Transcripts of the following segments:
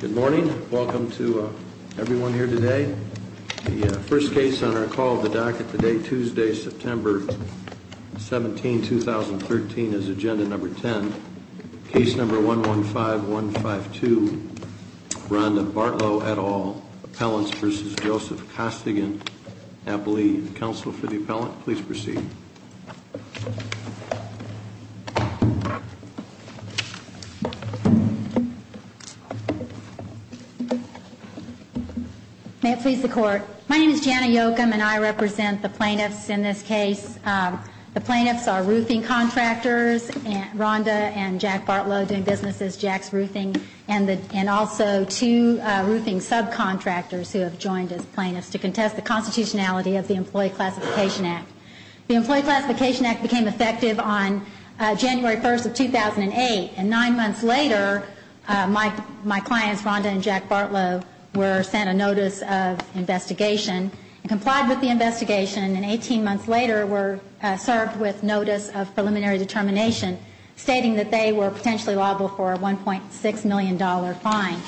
Good morning. Welcome to everyone here today. The first case on our call of the docket today, Tuesday, September 17, 2013, is agenda number 10. Case number 115152, Rhonda Bartlow et al., Appellants v. Joseph Costigan. Counsel for the appellant, please proceed. May it please the court. My name is Jana Yokum and I represent the plaintiffs in this case. The plaintiffs are roofing contractors, Rhonda and Jack Bartlow doing business as Jack's Roofing, and also two roofing subcontractors who have joined as plaintiffs to contest the constitutionality of the Employee Classification Act. The Employee Classification Act became effective on January 1st of 2008, and nine months later my clients, Rhonda and Jack Bartlow, were sent a notice of investigation, and complied with the investigation, and 18 months later were served with notice of preliminary determination, stating that they were potentially liable for a $1.6 million fine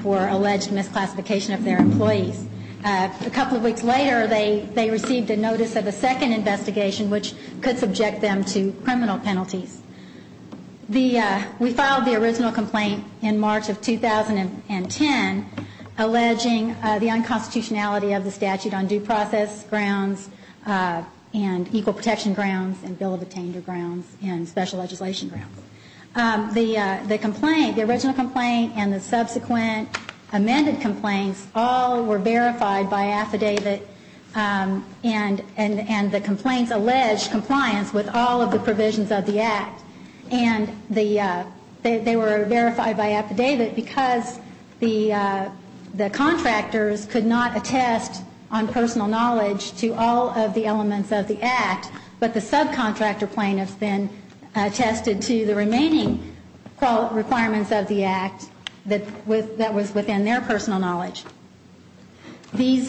for alleged misclassification of their employees. A couple of weeks later they received a notice of a second investigation, which could subject them to criminal penalties. We filed the original complaint in March of 2010, alleging the unconstitutionality of the statute on due process grounds and equal protection grounds and bill of attainder grounds and special legislation grounds. The complaint, the original complaint and the subsequent amended complaints all were verified by affidavit, and the complaints alleged compliance with all of the provisions of the Act. And they were verified by affidavit because the contractors could not attest on personal knowledge to all of the elements of the Act, but the subcontractor plaintiffs then attested to the remaining requirements of the Act that was within their personal knowledge. The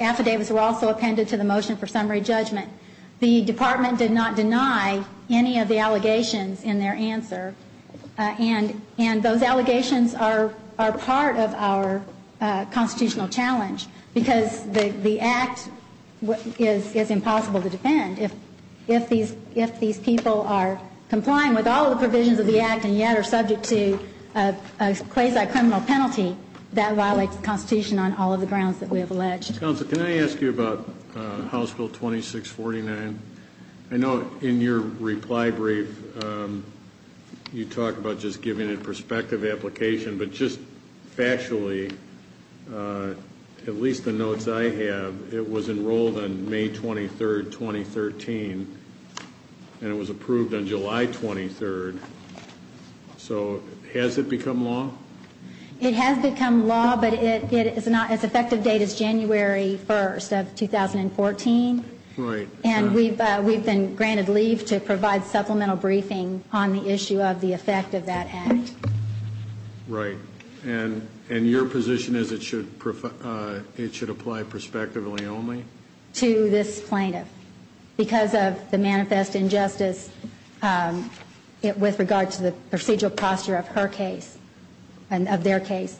affidavits were also appended to the motion for summary judgment. The Department did not deny any of the allegations in their answer, and those allegations are part of our constitutional challenge because the Act is impossible to defend. If these people are complying with all of the provisions of the Act and yet are subject to a quasi-criminal penalty, that violates the Constitution on all of the grounds that we have alleged. Counsel, can I ask you about House Bill 2649? I know in your reply brief you talk about just giving a prospective application, but just factually, at least the notes I have, it was enrolled on May 23rd, 2013, and it was approved on July 23rd. So has it become law? It has become law, but it is not as effective a date as January 1st of 2014. Right. And we've been granted leave to provide supplemental briefing on the issue of the effect of that Act. Right. And your position is it should apply prospectively only? to this plaintiff because of the manifest injustice with regard to the procedural posture of her case and of their case.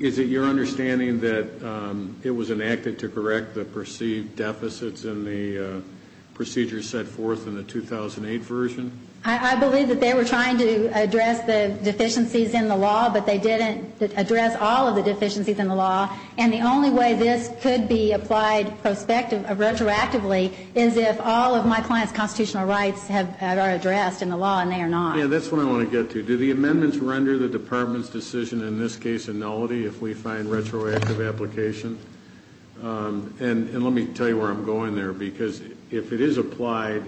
Is it your understanding that it was enacted to correct the perceived deficits in the procedures set forth in the 2008 version? I believe that they were trying to address the deficiencies in the law, but they didn't address all of the deficiencies in the law. And the only way this could be applied retrospectively is if all of my client's constitutional rights are addressed in the law and they are not. Yeah, that's what I want to get to. Do the amendments render the Department's decision in this case a nullity if we find retroactive application? And let me tell you where I'm going there, because if it is applied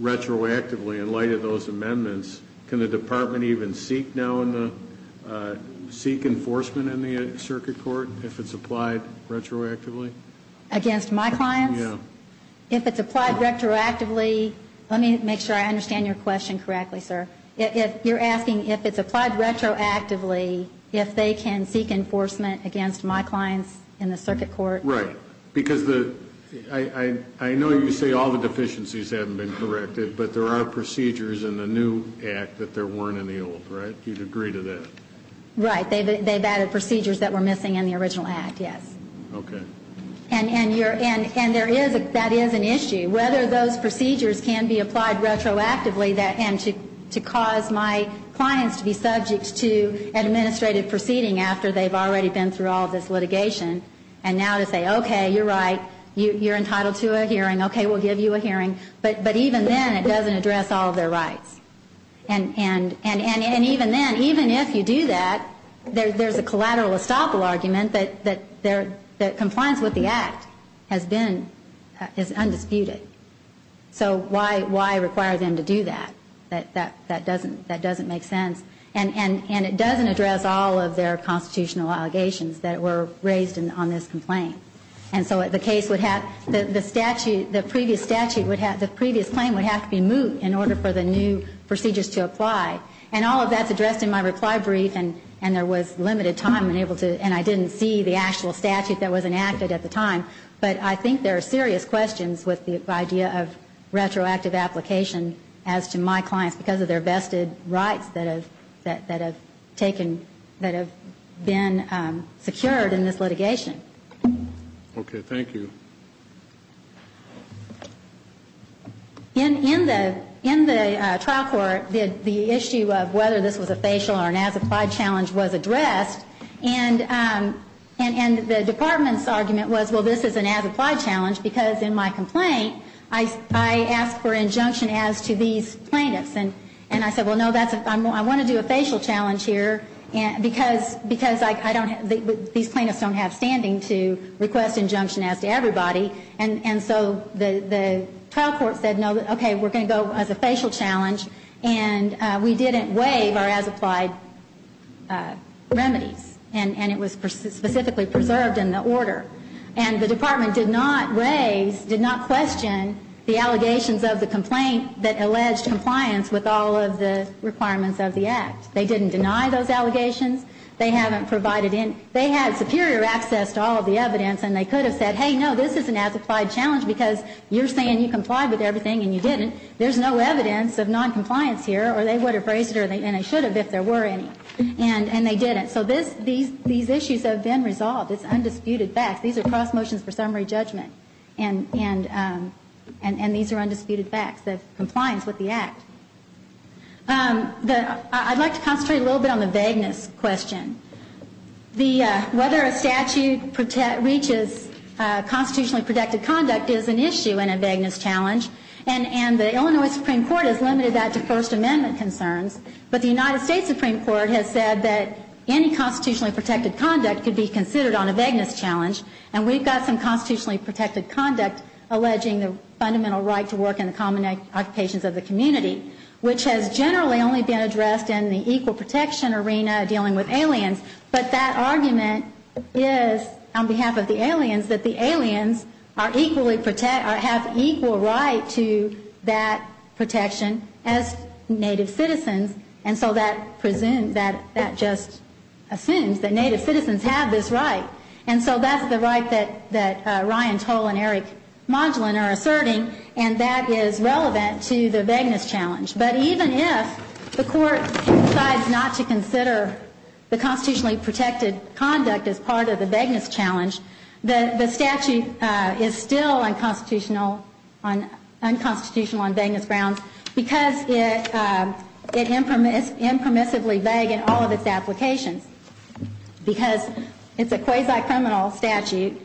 retroactively in light of those amendments, can the Department even seek enforcement in the circuit court if it's applied retroactively? Against my clients? Yeah. If it's applied retroactively, let me make sure I understand your question correctly, sir. You're asking if it's applied retroactively, if they can seek enforcement against my clients in the circuit court? Right. Because I know you say all the deficiencies haven't been corrected, but there are procedures in the new act that there weren't in the old, right? You'd agree to that? Right. They've added procedures that were missing in the original act, yes. Okay. And that is an issue. Whether those procedures can be applied retroactively and to cause my clients to be subject to an administrative proceeding after they've already been through all of this litigation and now to say, okay, you're right, you're entitled to a hearing, okay, we'll give you a hearing. But even then, it doesn't address all of their rights. And even then, even if you do that, there's a collateral estoppel argument that compliance with the act has been undisputed. So why require them to do that? That doesn't make sense. And it doesn't address all of their constitutional allegations that were raised on this complaint. And so the case would have the statute, the previous statute would have, the previous claim would have to be moved in order for the new procedures to apply. And all of that's addressed in my reply brief, and there was limited time and I didn't see the actual statute that was enacted at the time. But I think there are serious questions with the idea of retroactive application as to my clients, because of their vested rights that have taken, that have been secured in this litigation. Okay. Thank you. In the trial court, the issue of whether this was a facial or an as-applied challenge was addressed. And the department's argument was, well, this is an as-applied challenge, because in my complaint, I asked for injunction as to these plaintiffs. And I said, well, no, I want to do a facial challenge here, because I don't, these plaintiffs don't have standing to request injunction as to everybody. And so the trial court said, no, okay, we're going to go as a facial challenge, and we didn't waive our as-applied remedy. And it was specifically preserved in the order. And the department did not raise, did not question the allegations of the complaint that alleged compliance with all of the requirements of the Act. They didn't deny those allegations. They haven't provided any, they had superior access to all of the evidence, and they could have said, hey, no, this is an as-applied challenge, because you're saying you complied with everything, and you didn't, there's no evidence of noncompliance here, or they would have raised it, and they should have if there were any. And they didn't. So these issues have been resolved. It's undisputed facts. These are cross motions for summary judgment, and these are undisputed facts, the compliance with the Act. I'd like to concentrate a little bit on the vagueness question. The, whether a statute reaches constitutionally protected conduct is an issue in a vagueness challenge, and the Illinois Supreme Court has limited that to First Amendment concerns, but the United States Supreme Court has said that any constitutionally protected conduct could be considered on a vagueness challenge, and we've got some constitutionally protected conduct alleging the fundamental right to work in the common occupations of the community, which has generally only been addressed in the equal protection arena dealing with aliens, but that argument is, on behalf of the aliens, that the aliens are equally, or have equal right to that protection as native citizens, and so that just assumes that native citizens have this right. And so that's the right that Ryan Toll and Eric Modulin are asserting, and that is relevant to the constitutionally protected conduct as part of the vagueness challenge. The statute is still unconstitutional on vagueness grounds, because it impermissibly vague in all of its applications. Because it's a quasi-criminal statute,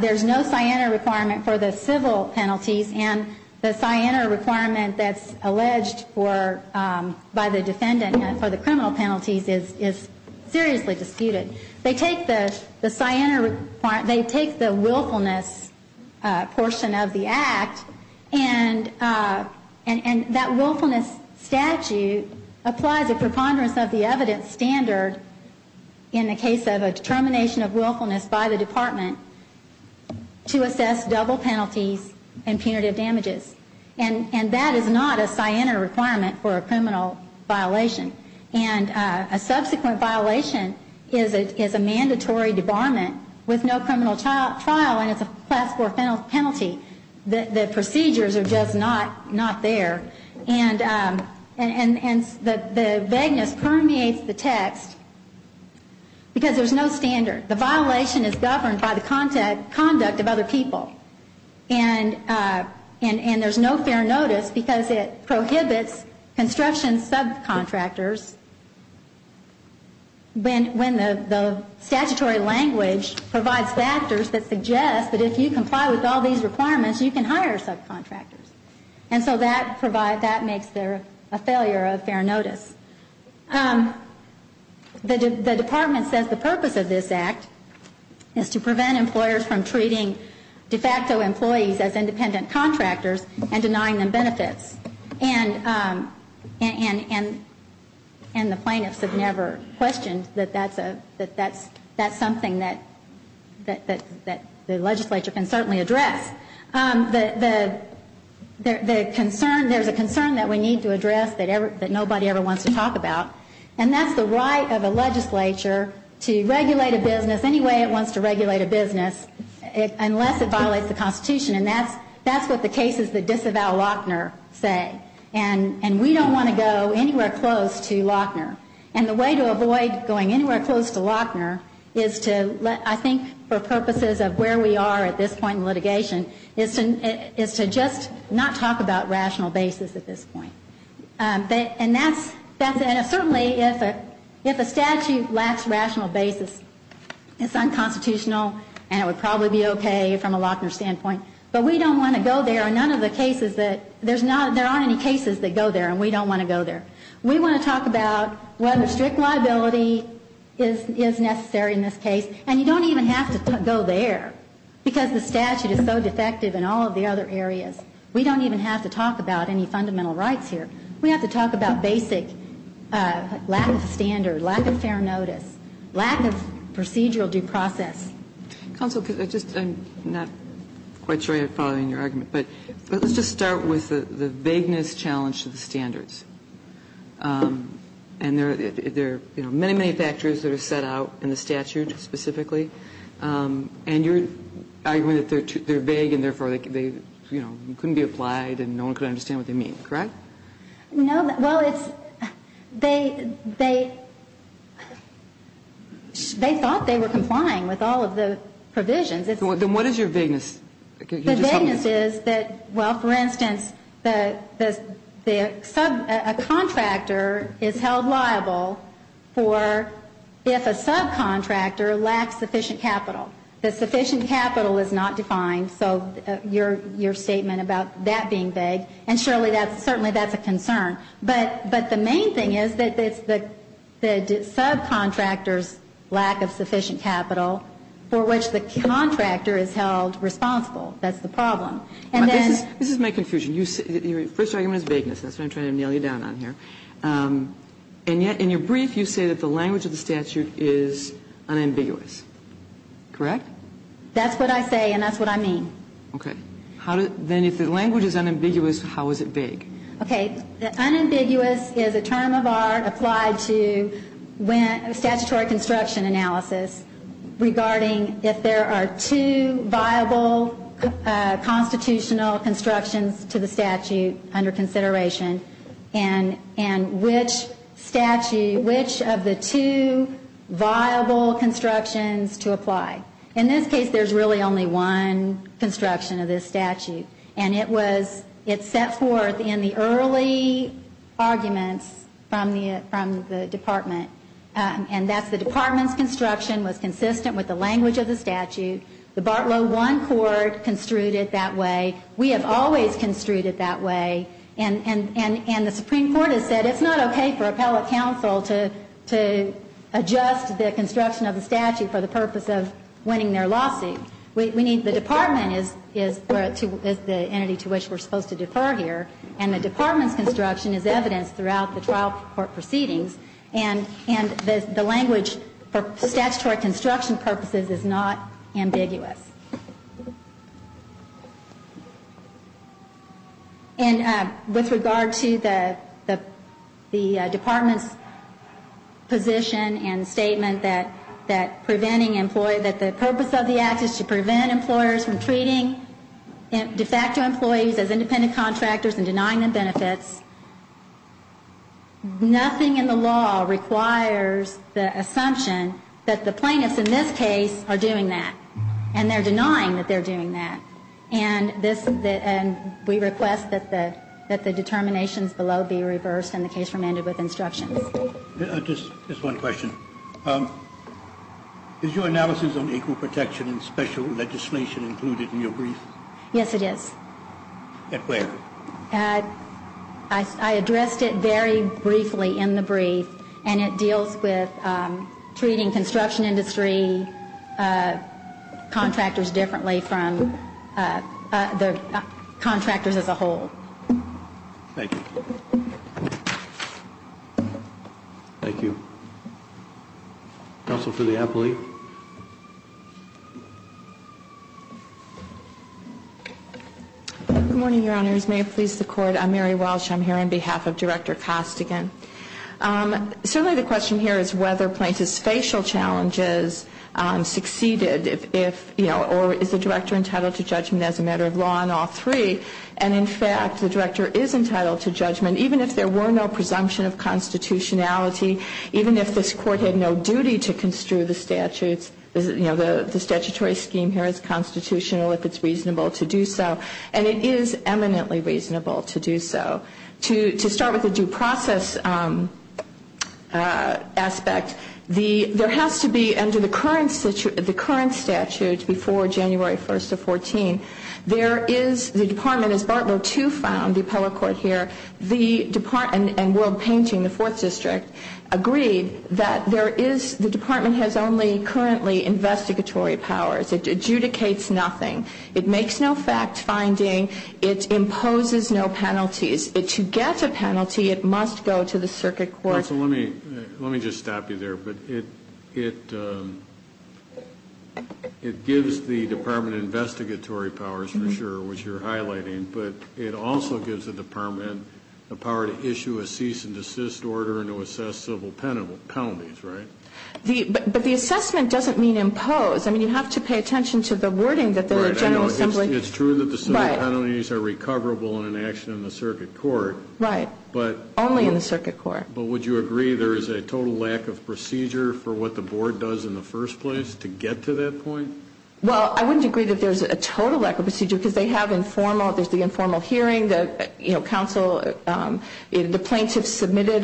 there's no Siena requirement for the civil penalties, and the Siena requirement that's alleged by the defendant for the criminal penalties is seriously disputed. They take the Siena requirement, they take the willfulness portion of the act, and that willfulness statute applies a preponderance of the evidence standard in the case of a determination of willfulness by the department to assess double penalties and punitive damages. And that is not a Siena requirement for a criminal violation. And a subsequent violation is a mandatory debarment with no criminal trial, and it's a class 4 penalty. The procedures are just not there. And the vagueness permeates the text, because there's no standard. The violation is governed by the conduct of other people. And there's no fair notice, because it prohibits construction subcontractors when the statutory language provides factors that suggest that if you comply with all these requirements, you can hire subcontractors. And so that makes there a requirement. The purpose of this act is to prevent employers from treating de facto employees as independent contractors and denying them benefits. And the plaintiffs have never questioned that that's something that the legislature can certainly address. There's a concern that we need to address that nobody ever wants to regulate a business any way it wants to regulate a business unless it violates the Constitution. And that's what the cases that disavow Lochner say. And we don't want to go anywhere close to Lochner. And the way to avoid going anywhere close to Lochner is to, I think, for purposes of where we are at this point in litigation, is to just not talk about rational basis at this point. And that's, and certainly if a statute lacks rational basis, it's not constitutional, and it would probably be okay from a Lochner standpoint. But we don't want to go there. And none of the cases that, there's not, there aren't any cases that go there, and we don't want to go there. We want to talk about whether strict liability is necessary in this case. And you don't even have to go there, because the statute is so defective in all of the other areas. We don't even have to talk about any fundamental rights here. We have to talk about basic lack of standard, lack of fair notice, lack of procedural due process. Counsel, I just, I'm not quite sure I'm following your argument. But let's just start with the vagueness challenge to the standards. And there are, you know, many, many factors that are set out in the statute specifically. And your argument that they're vague and therefore they, you know, couldn't be more vague. Well, it's, they, they, they thought they were complying with all of the provisions. Then what is your vagueness? The vagueness is that, well, for instance, the sub, a contractor is held liable for if a subcontractor lacks sufficient capital. The sufficient capital is held responsible for if, but the main thing is that the subcontractor's lack of sufficient capital for which the contractor is held responsible. That's the problem. And then But this is my confusion. You say, your first argument is vagueness. That's what I'm trying to nail you down on here. And yet in your brief you say that the language of the statute is unambiguous. Correct? That's what I say and that's what I mean. Okay. Then if the language is unambiguous, how is it vague? Unambiguous is a term of art applied to statutory construction analysis regarding if there are two viable constitutional constructions to the statute under consideration and which of the two viable constructions to apply. In this case there's really only one construction. And it was, it's set forth in the early arguments from the department. And that's the department's construction was consistent with the language of the statute. The Bartlow one court construed it that way. We have always construed it that way. And the Supreme Court has said it's not okay for appellate counsel to adjust the construction of the statute for the purpose of winning their lawsuit. We need, the department is the entity to which we're supposed to defer here. And the department's construction is evidenced throughout the trial court proceedings. And the language for statutory construction purposes is not ambiguous. And with regard to the department's position and statement that preventing employee, that the purpose of the act is to prevent employee from treating de facto employees as independent contractors and denying them benefits, nothing in the law requires the assumption that the plaintiffs in this case are doing that. And they're denying that they're doing that. And this, and we request that the determinations below be reversed in the case remanded with instructions. Just one question. Is your analysis on equal protection and special legislation included in your brief? Yes, it is. I addressed it very briefly in the brief. And it deals with treating construction industry contractors differently from the contractors as a matter of law and all three. And in fact, the director is entitled to judgment, even if there were no presumption of constitutionality. Even if this court had no duty to construe the statutes, you know, the statutory scheme here is constitutional if it's reasonable to do so. And it is eminently reasonable to do so. To start with the due process aspect, there has to be under the current statute before January 1st of 14, there is the department, as Bartlow District, agreed that there is, the department has only currently investigatory powers. It adjudicates nothing. It makes no fact-finding. It imposes no penalties. To get a penalty, it must go to the circuit court. Let me just stop you there. But it gives the department investigatory powers, for sure, which you're highlighting. But it also gives the department the power to assess civil penalties, right? But the assessment doesn't mean impose. I mean, you have to pay attention to the wording that the General Assembly... Right. I know. It's true that the civil penalties are recoverable in an action in the circuit court. Right. Only in the circuit court. But would you agree there is a total lack of procedure for what the board does in the first place to get to that point? Well, I wouldn't agree that there's a total lack of procedure, because they have informal, there's the informal hearing, the, you know, counsel, the plaintiffs submitted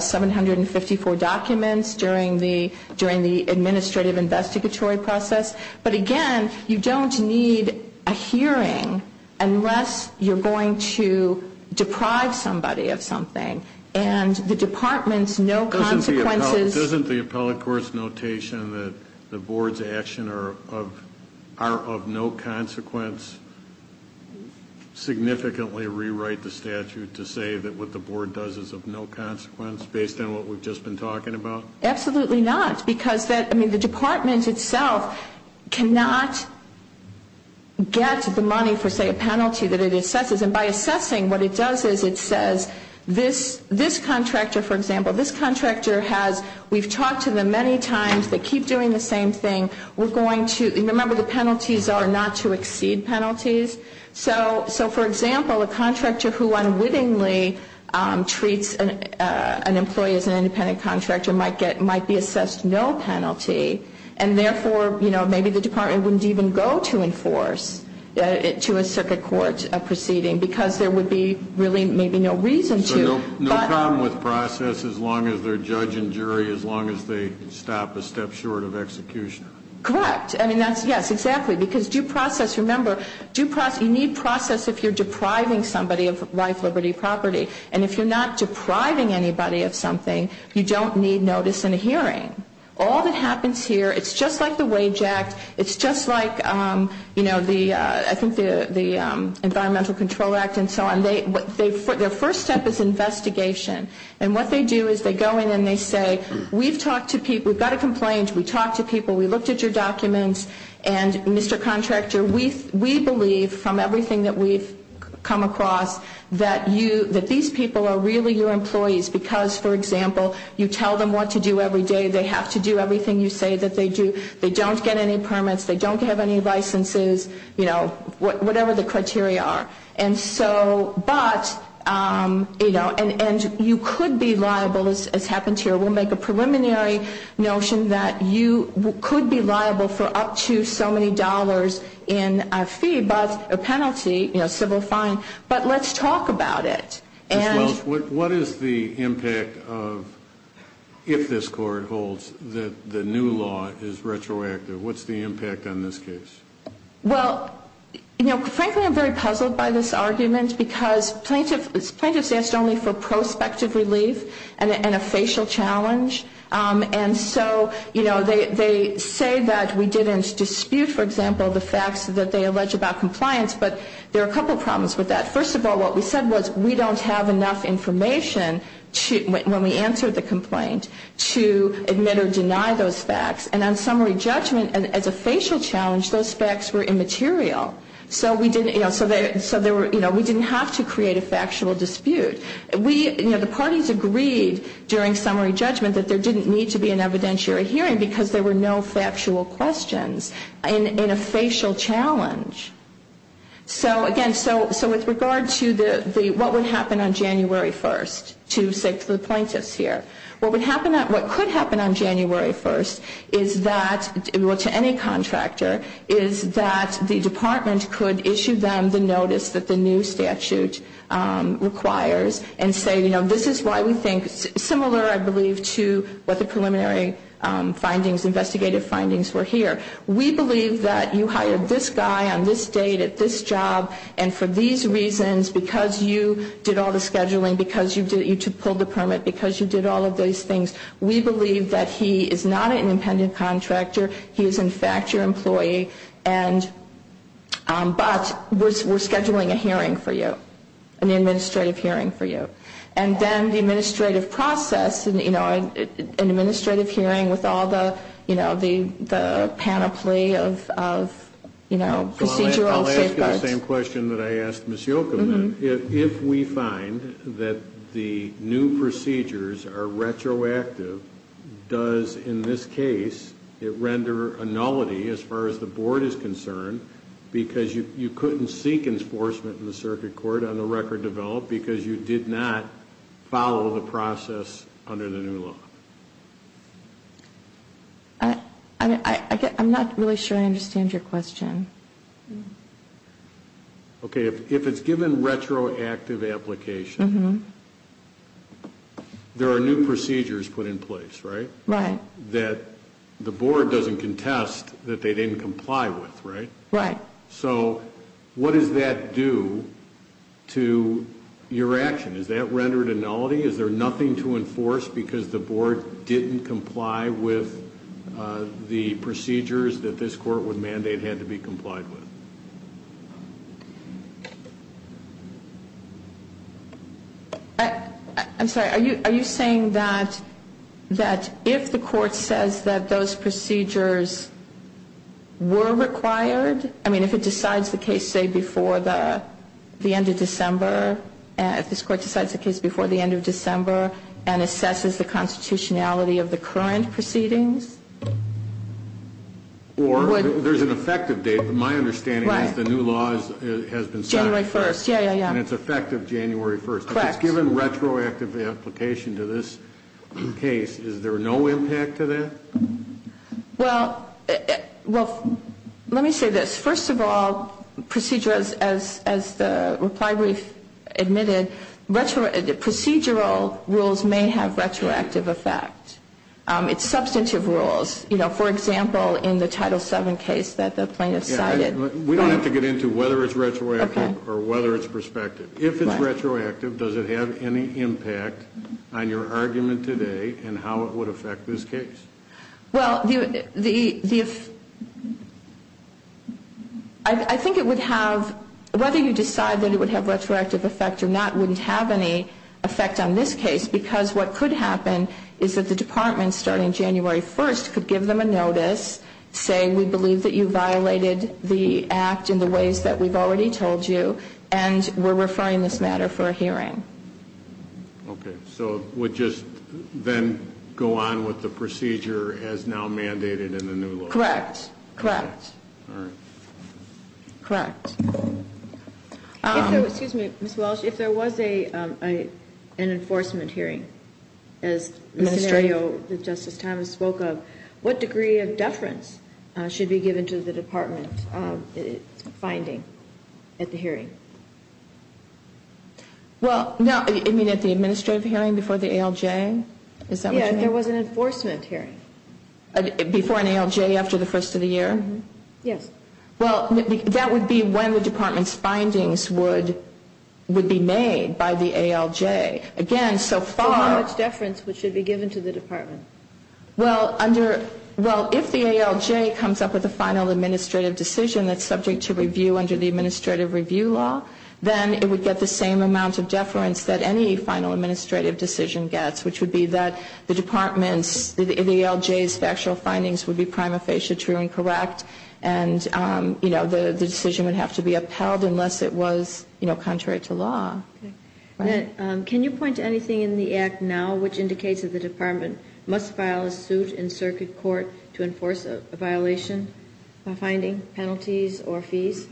754 documents during the, during the administrative investigatory process. But again, you don't need a hearing unless you're going to deprive somebody of something. And the department's no consequences... Doesn't the appellate court's notation that the board's actions are of no consequence significantly rewrite the statute to say that what the board does is of no consequence based on what we've just been talking about? Absolutely not. Because that, I mean, the department itself cannot get the money for, say, a penalty that it assesses. And by assessing, what it does is it says, this, this contractor, for example, this contractor has one penalty. We've talked to them many times. They keep doing the same thing. We're going to, remember, the penalties are not to exceed penalties. So, so for example, a contractor who unwittingly treats an employee as an independent contractor might get, might be assessed no penalty. And therefore, you know, maybe the department wouldn't even go to enforce it to a circuit court proceeding, because there would be really maybe no reason to. No problem with process, as long as they're judge and jury, as long as they stop a step short of execution. Correct. I mean, that's, yes, exactly. Because due process, remember, due process, you need process if you're depriving somebody of life, liberty, property. And if you're not depriving anybody of something, you don't need notice in a hearing. All that happens here, it's just like the Wage Act, it's just like, you know, the, I think the Environmental Control Act and so on. It's just an investigation. And what they do is they go in and they say, we've talked to people, we've got a complaint, we talked to people, we looked at your documents, and, Mr. Contractor, we believe from everything that we've come across, that you, that these people are really your employees. Because, for example, you tell them what to do every day, they have to do everything you say that they do. They don't get any permits, they don't have any licenses, you know, whatever the criteria are. And so, but, you know, and you could be liable, as happens here. We'll make a preliminary notion that you could be liable for up to so many dollars in a fee, but a penalty, you know, civil fine. But let's talk about it. And... I'm not going to justify this argument, because plaintiffs, plaintiffs asked only for prospective relief and a facial challenge. And so, you know, they say that we didn't dispute, for example, the facts that they allege about compliance, but there are a couple problems with that. First of all, what we said was we don't have enough information to, when we answer the complaint, to admit or deny those facts. And on summary judgment, as a facial challenge, those facts were immaterial. So we didn't, you know, so there were, you know, we didn't have to create a factual dispute. We, you know, the parties agreed during summary judgment that there didn't need to be an evidentiary hearing, because there were no factual questions in a facial challenge. So again, so with regard to the, what would happen on January 1st, to say to the plaintiffs here. What would happen, what could happen on January 1st is that, well, to any contractor, is that the department would have to make a decision. The department could issue them the notice that the new statute requires and say, you know, this is why we think, similar, I believe, to what the preliminary findings, investigative findings were here. We believe that you hired this guy on this date at this job, and for these reasons, because you did all the scheduling, because you pulled the permit, because you did all of these things, we believe that he is not an independent contractor. He is, in fact, your employee, and, but we're scheduling a hearing for you, an administrative hearing for you. And then the administrative process, you know, an administrative hearing with all the, you know, the panoply of, you know, procedural safeguards. I'll ask you the same question that I asked Ms. Yocum then. If we find that the new procedures are retroactive, does, in this case, it render the new procedures irreversible? Or does it render a nullity, as far as the board is concerned, because you couldn't seek enforcement in the circuit court on the record developed, because you did not follow the process under the new law? I'm not really sure I understand your question. Okay, if it's given retroactive application, there are new procedures put in place, right? Right. And the board can test that they didn't comply with, right? Right. So what does that do to your action? Is that rendered a nullity? Is there nothing to enforce because the board didn't comply with the procedures that this court would mandate had to be complied with? I'm sorry. Are you saying that if the court says that those procedures were required, I mean, if it decides the case, say, before the end of December, if this court decides the case before the end of December and assesses the constitutionality of the current proceedings? Or, there's an effective date, but my understanding is the new law has been set. January 1st. Yeah, yeah, yeah. And it's effective January 1st. Correct. If it's given retroactive application to this case, is there no impact to that? Well, let me say this. First of all, procedurals, as the reply brief admitted, procedural rules may have retroactive effect. It's substantive rules. You know, for example, in the Title VII case that the plaintiff cited. Yeah, we don't have to get into whether it's retroactive or whether it's prospective. If it's retroactive, does it have any impact on your argument today and how it would affect this case? Well, I think it would have, whether you decide that it would have retroactive effect or not, wouldn't have any effect on this case because what could happen is that the department would have to decide that the department, starting January 1st, could give them a notice, say we believe that you violated the act in the ways that we've already told you, and we're referring this matter for a hearing. Okay. So it would just then go on with the procedure as now mandated in the new law? Correct. Correct. All right. Correct. Excuse me, Ms. Walsh. If there was an enforcement hearing, as the scenario that Justice Thomas spoke of, what degree of deference should be given to the department finding at the hearing? Well, now, you mean at the administrative hearing before the ALJ? Is that what you mean? Yeah, if there was an enforcement hearing. Before an ALJ after the first of the year? Yes. Well, that would be when the department's findings would be made by the ALJ. Again, so far... So how much deference should be given to the department? Well, if the ALJ comes up with a final administrative decision that's subject to review under the administrative review law, then it would get the same amount of deference that any final administrative decision gets, which would be that the department's, the ALJ's factual findings would be prima facie true and correct, and, you know, the decision would have to be upheld unless it was, you know, contrary to law. Okay. Can you point to anything in the Act now which indicates that the department must file a suit in circuit court to enforce a violation, a finding, penalties or fees?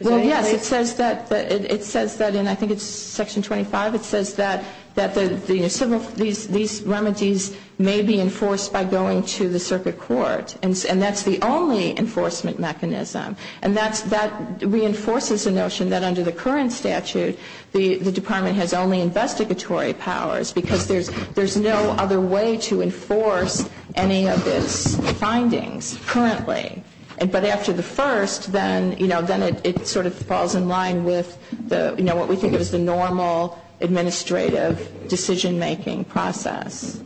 Well, yes. It says that in, I think it's section 25, it says that the civil, these remedies may be enforced by going to the circuit court, and that's the only enforcement mechanism. And that's, that reinforces the notion that under the current statute, the department has only investigatory powers, because there's no other way to enforce any of its findings currently. But after the first, then, you know, then it sort of falls in line with the, you know, what we think of as the normal administrative decision-making process.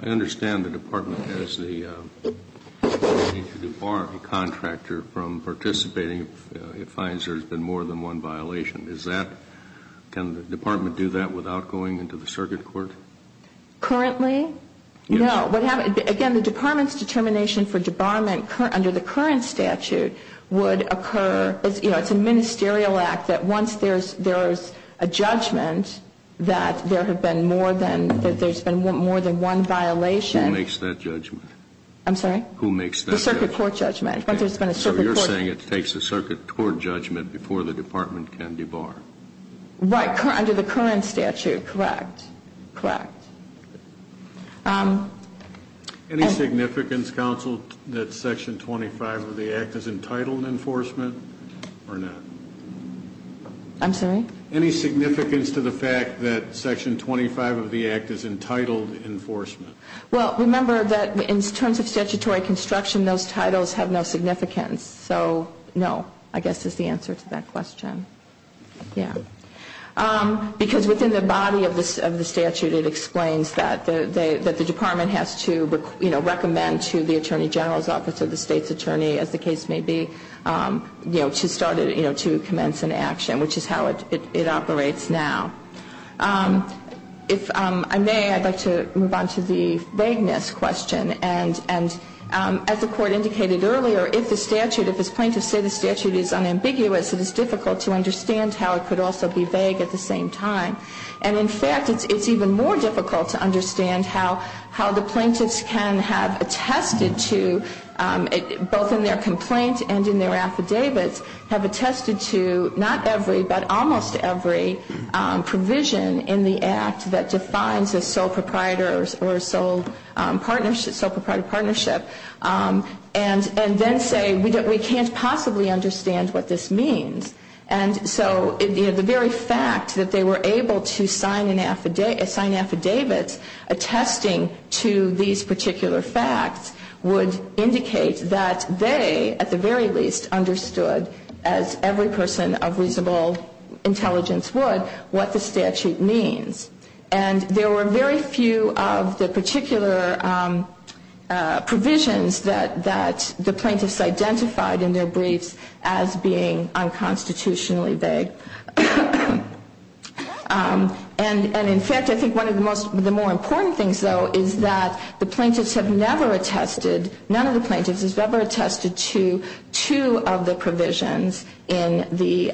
I understand the department has the ability to debar a contractor from participating if it finds there's been more than one violation. Is that, can the department do that without going into the circuit court? Currently? Yes. No, what happens, again, the department's determination for debarment under the current statute would occur, you know, it's a ministerial act that once there's a judgment that there have been more than, that there's been more than one violation. Who makes that judgment? I'm sorry? Who makes that judgment? The circuit court judgment. Once there's been a circuit court judgment. So you're saying it takes a circuit court judgment before the department can debar? Right, under the current statute, correct. Correct. Any significance, counsel, that Section 25 of the Act is entitled enforcement or not? I'm sorry? Any significance to the fact that Section 25 of the Act is entitled enforcement? Well, remember that in terms of statutory construction, those titles have no significance. So, no, I guess is the answer to that question. Yeah. Because within the body of the statute, it explains that the department has to, you know, recommend to the attorney general's office or the state's attorney, as the case may be, you know, to start, you know, to commence an action, which is how it operates now. If I may, I'd like to move on to the vagueness question. And as the Court indicated earlier, if the statute, if plaintiffs say the statute is unambiguous, it is difficult to understand how it could also be vague at the same time. And, in fact, it's even more difficult to understand how the plaintiffs can have attested to, both in their complaint and in their affidavits, have attested to not every, but almost every, provision in the Act that defines a sole proprietor or sole partnership, sole proprietor partnership, and then say we can't possibly understand what this means. And so, you know, the very fact that they were able to sign an affidavit attesting to these particular facts would indicate that they, at the very least, understood, as every person of reasonable intelligence would, what the statute means. And there were very few of the particular provisions that the plaintiffs identified in their briefs as being unconstitutionally vague. And, in fact, I think one of the most, the more important things, though, is that the plaintiffs have never attested, none of the plaintiffs has ever attested to two of the provisions in the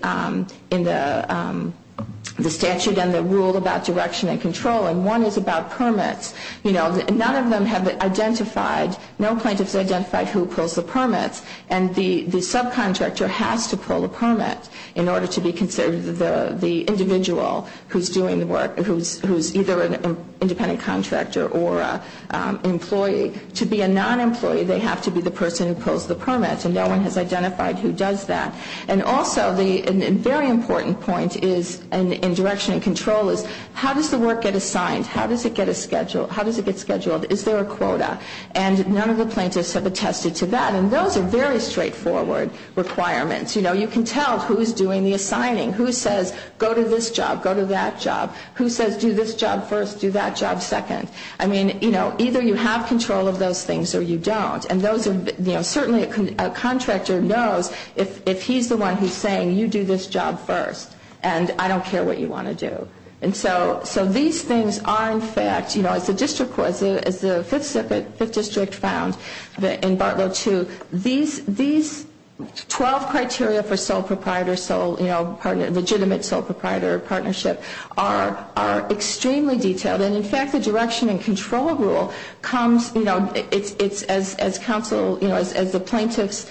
statute and the rule about direction and control, and one is about permits. You know, none of them have identified, no plaintiffs identified who pulls the permits, and the subcontractor has to pull the permit in order to be considered the individual who's doing the work, who's either an independent contractor or an employee. To be a non-employee, they have to be the person who pulls the permits, and no one has identified who does that. And also the very important point is, in direction and control, is how does the work get assigned? How does it get scheduled? Is there a quota? And none of the plaintiffs have attested to that, and those are very straightforward requirements. You know, you can tell who's doing the assigning, who says go to this job, go to that job, who says do this job first, do that job second. I mean, you know, either you have control of those things or you don't, and those are, you know, certainly a contractor knows if he's the one who's saying you do this job first, and I don't care what you want to do. And so these things are in fact, you know, as the district court, as the Fifth District found in Part 2, these 12 criteria for sole proprietor, you know, legitimate sole proprietor partnership are extremely detailed. And in fact, the direction and control rule comes, you know, it's as counsel, you know, as the plaintiff's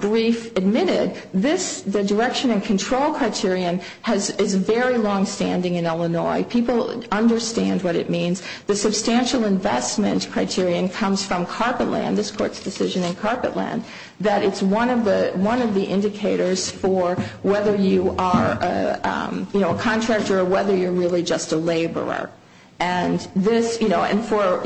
brief admitted, the direction and control criterion is very longstanding in Illinois. People understand what it means. The substantial investment criterion comes from carpet land, this Court's decision in carpet land, that it's one of the indicators for whether you are, you know, a contractor or whether you're really just a laborer. And this, you know, and for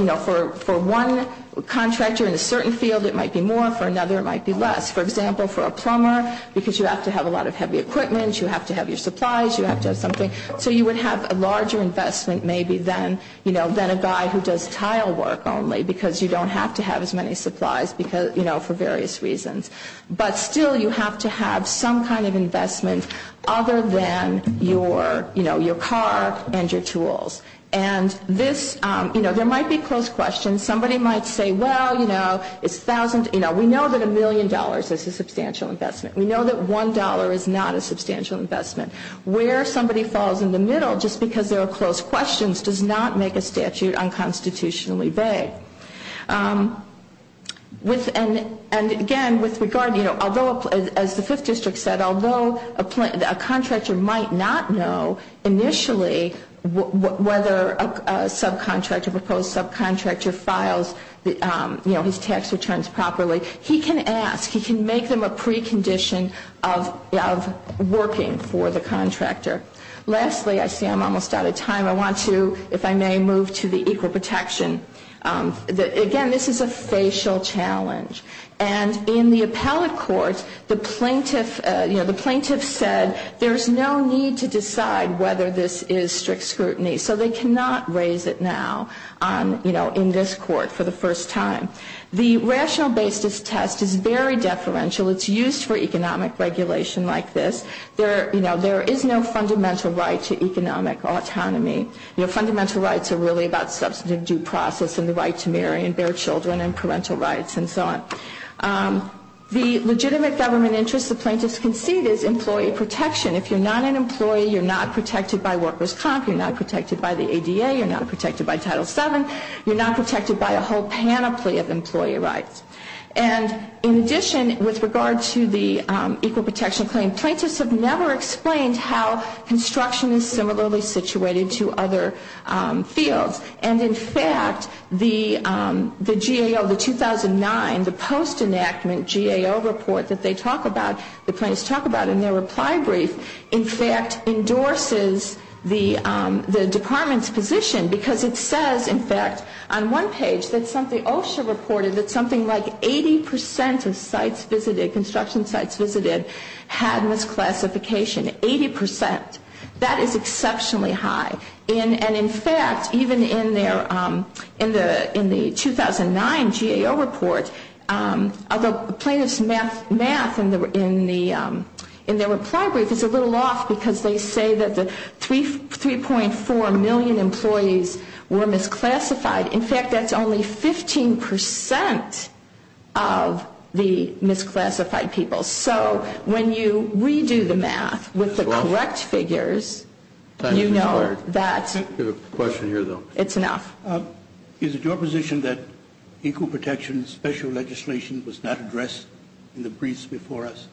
one contractor in a certain field it might be more, for another it might be less. For example, for a plumber, because you have to have a lot of heavy equipment, you have to have your supplies, you have to have something, so you would have a larger investment maybe than, you know, than a guy who does tile work only because you don't have to have as many supplies, you know, for various reasons. But still you have to have some kind of investment other than your, you know, your car and your tools. And this, you know, there might be close questions. Somebody might say, well, you know, it's thousands, you know, we know that a million dollars is a substantial investment. We know that one dollar is not a substantial investment. Where somebody falls in the middle just because there are close questions does not make a statute unconstitutionally vague. And again, with regard, you know, although as the Fifth District said, although a contractor might not know initially whether a subcontractor, proposed subcontractor files, you know, his tax returns properly, he can ask, he can make them a precondition of working for the contractor. Lastly, I see I'm almost out of time. I want to, if I may, move to the equal protection. Again, this is a facial challenge. And in the appellate court, the plaintiff, you know, the plaintiff said there's no need to decide whether this is strict scrutiny. So they cannot raise it now on, you know, in this court for the first time. The rational basis test is very deferential. It's used for economic regulation like this. There, you know, there is no fundamental right to economic autonomy. You know, fundamental rights are really about substantive due process and the right to marry and bear children and parental rights and so on. The legitimate government interest the plaintiffs concede is employee protection. If you're not an employee, you're not protected by workers' comp, you're not protected by the ADA, you're not protected by Title VII, you're not protected by a whole panoply of employee rights. And in addition, with regard to the equal protection claim, plaintiffs have never explained how construction is similarly situated to other fields. And in fact, the GAO, the 2009, the post-enactment GAO report that they talk about, the plaintiffs talk about in their reply brief, in fact, on one page that something, OSHA reported that something like 80% of sites visited, construction sites visited, had misclassification. 80%. That is exceptionally high. And in fact, even in their, in the 2009 GAO report, the plaintiffs' math in their reply brief is a little off because they say that the 3.4 million employees were misclassified. In fact, that's only 15% of the misclassified people. So when you redo the math with the correct figures, you know that it's enough. Is it your position that equal protection special legislation was not addressed in the briefs before us?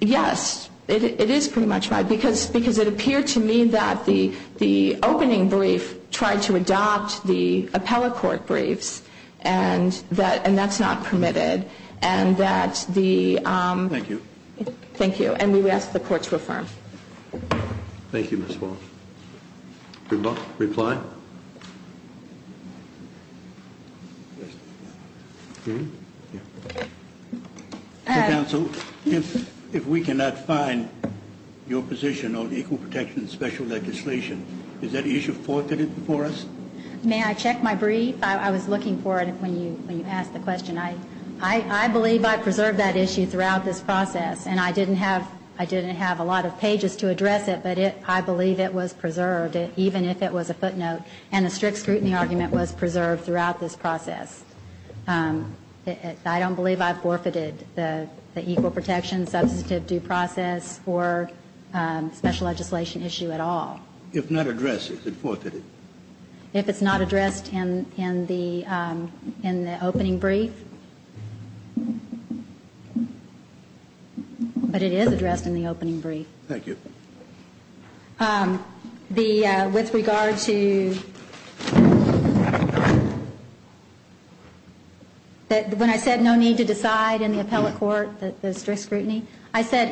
Yes, it is pretty much right, because it appeared to me that the opening brief was not addressed. We've tried to adopt the appellate court briefs, and that's not permitted. And that the... Thank you. Thank you. And we ask the Court to affirm. Thank you, Ms. Wall. Reply? Counsel, if we cannot find your position on equal protection special legislation, is that issue forfeited before us? May I check my brief? I was looking for it when you asked the question. I believe I preserved that issue throughout this process, and I didn't have a lot of pages to address it, but I believe it was preserved, even if it was a footnote, and a strict scrutiny argument was preserved throughout this process. I don't believe I forfeited the equal protection substantive due process or special legislation issue at all. If not addressed, is it forfeited? If it's not addressed in the opening brief. But it is addressed in the opening brief. Thank you. With regard to... When I said no need to decide in the appellate court the strict scrutiny, I said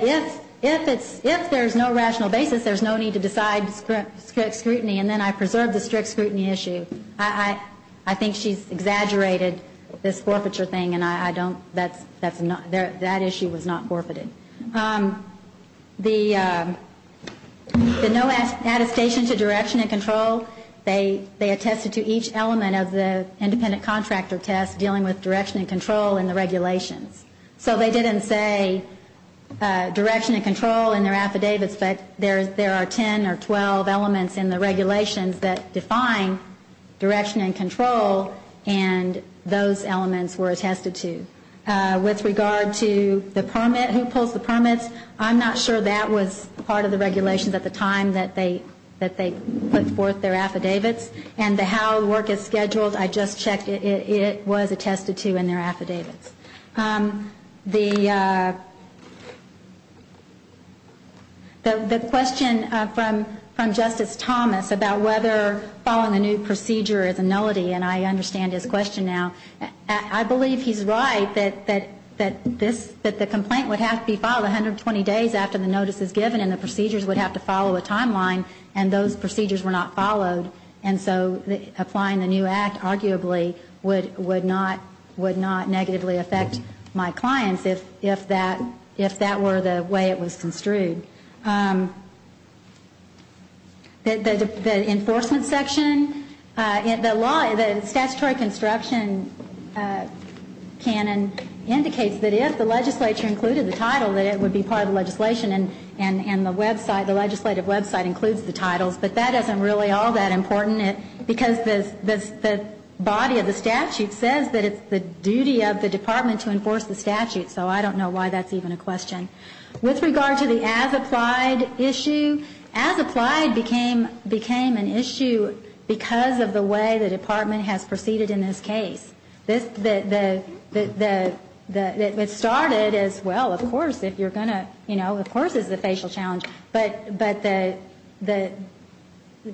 if there's no rational basis, there's no need to decide strict scrutiny, and then I preserved the strict scrutiny issue. I think she's exaggerated this forfeiture thing, and that issue was not forfeited. The no attestation to direction and control, they attested to each element of the independent contractor test dealing with direction and control in the regulations. So they didn't say direction and control in their affidavits, but there are 10 or 12 elements in the regulations that define direction and control. And those elements were attested to. With regard to the permit, who pulls the permits, I'm not sure that was part of the regulations at the time that they put forth their affidavits. And how the work is scheduled, I just checked, it was attested to in their affidavits. The question from Justice Thomas about whether following the new procedure is a nullity, and I understand his question now. I believe he's right that the complaint would have to be filed 120 days after the notice is given, and the procedures would have to follow a timeline, and those procedures were not followed. And so applying the new act, arguably, would not negatively affect the compliance of the new act. It would affect my clients if that were the way it was construed. The enforcement section, the statutory construction canon indicates that if the legislature included the title, that it would be part of the legislation. And the website, the legislative website, includes the titles. But that isn't really all that important, because the body of the statute says that it's the duty of the department to enforce the statute. So I don't know why that's even a question. With regard to the as-applied issue, as-applied became an issue because of the way the department has proceeded in this case. It started as, well, of course, if you're going to, you know, of course it's a facial challenge. But the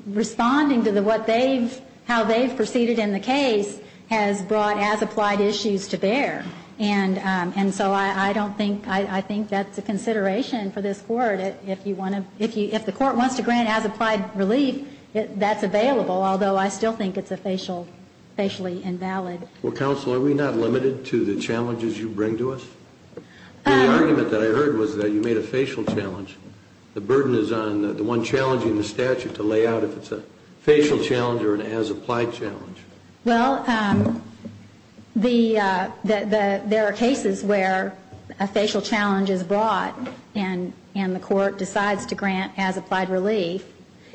responding to how they've proceeded in the case has brought as-applied issues to bear. And so I don't think, I think that's a consideration for this Court. If the Court wants to grant as-applied relief, that's available, although I still think it's a facially invalid. Well, counsel, are we not limited to the challenges you bring to us? The argument that I heard was that you made a facial challenge. The burden is on the one challenging the statute to lay out if it's a facial challenge or an as-applied challenge. Well, the, there are cases where a facial challenge is brought and the Court decides to grant as-applied relief.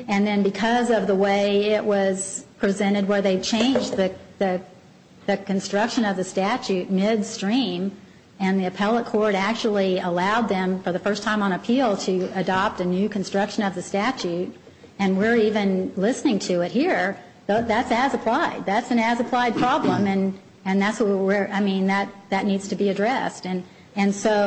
And then because of the way it was presented, where they changed the construction of the statute midstream, and the appellate court actually allowed them for the first time on appeal to adopt a new construction of the statute, and we're even listening to it here, that's as-applied. That's an as-applied problem, and that's what we're, I mean, that needs to be addressed. And so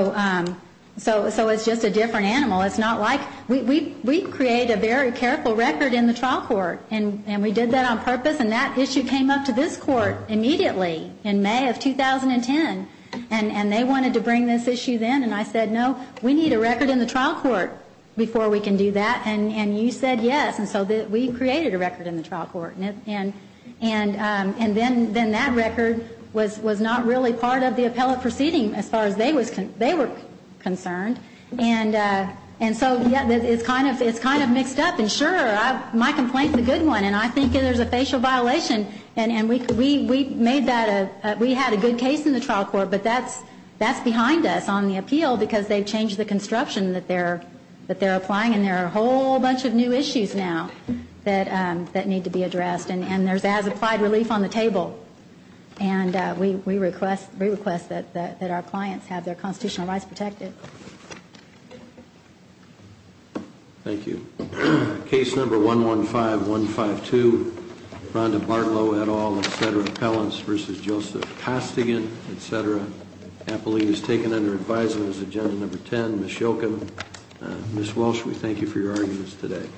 it's just a different animal. It's not like, we create a very careful record in the trial court, and we did that on purpose, and that issue came up to this Court immediately in May of 2010. And they wanted to bring this issue then, and I said, no, we need a record in the trial court before we can do that. And you said yes, and so we created a record in the trial court. And then that record was not really part of the appellate proceeding as far as they were concerned. And so, yeah, it's kind of mixed up. And sure, my complaint is a good one, and I think there's a facial violation. And we made that a, we had a good case in the trial court, but that's behind us on the appeal, because they've changed the construction that they're applying, and there are a whole bunch of new issues now that need to be addressed. And there's as-applied relief on the table. And we request that our clients have their constitutional rights protected. Thank you. Case number 115152, Rhonda Bartlow et al, etc., Pellance v. Joseph Costigan, etc., appellate is taken under advisement as agenda number 10, Ms. Shoken, Ms. Walsh, we thank you for your arguments today.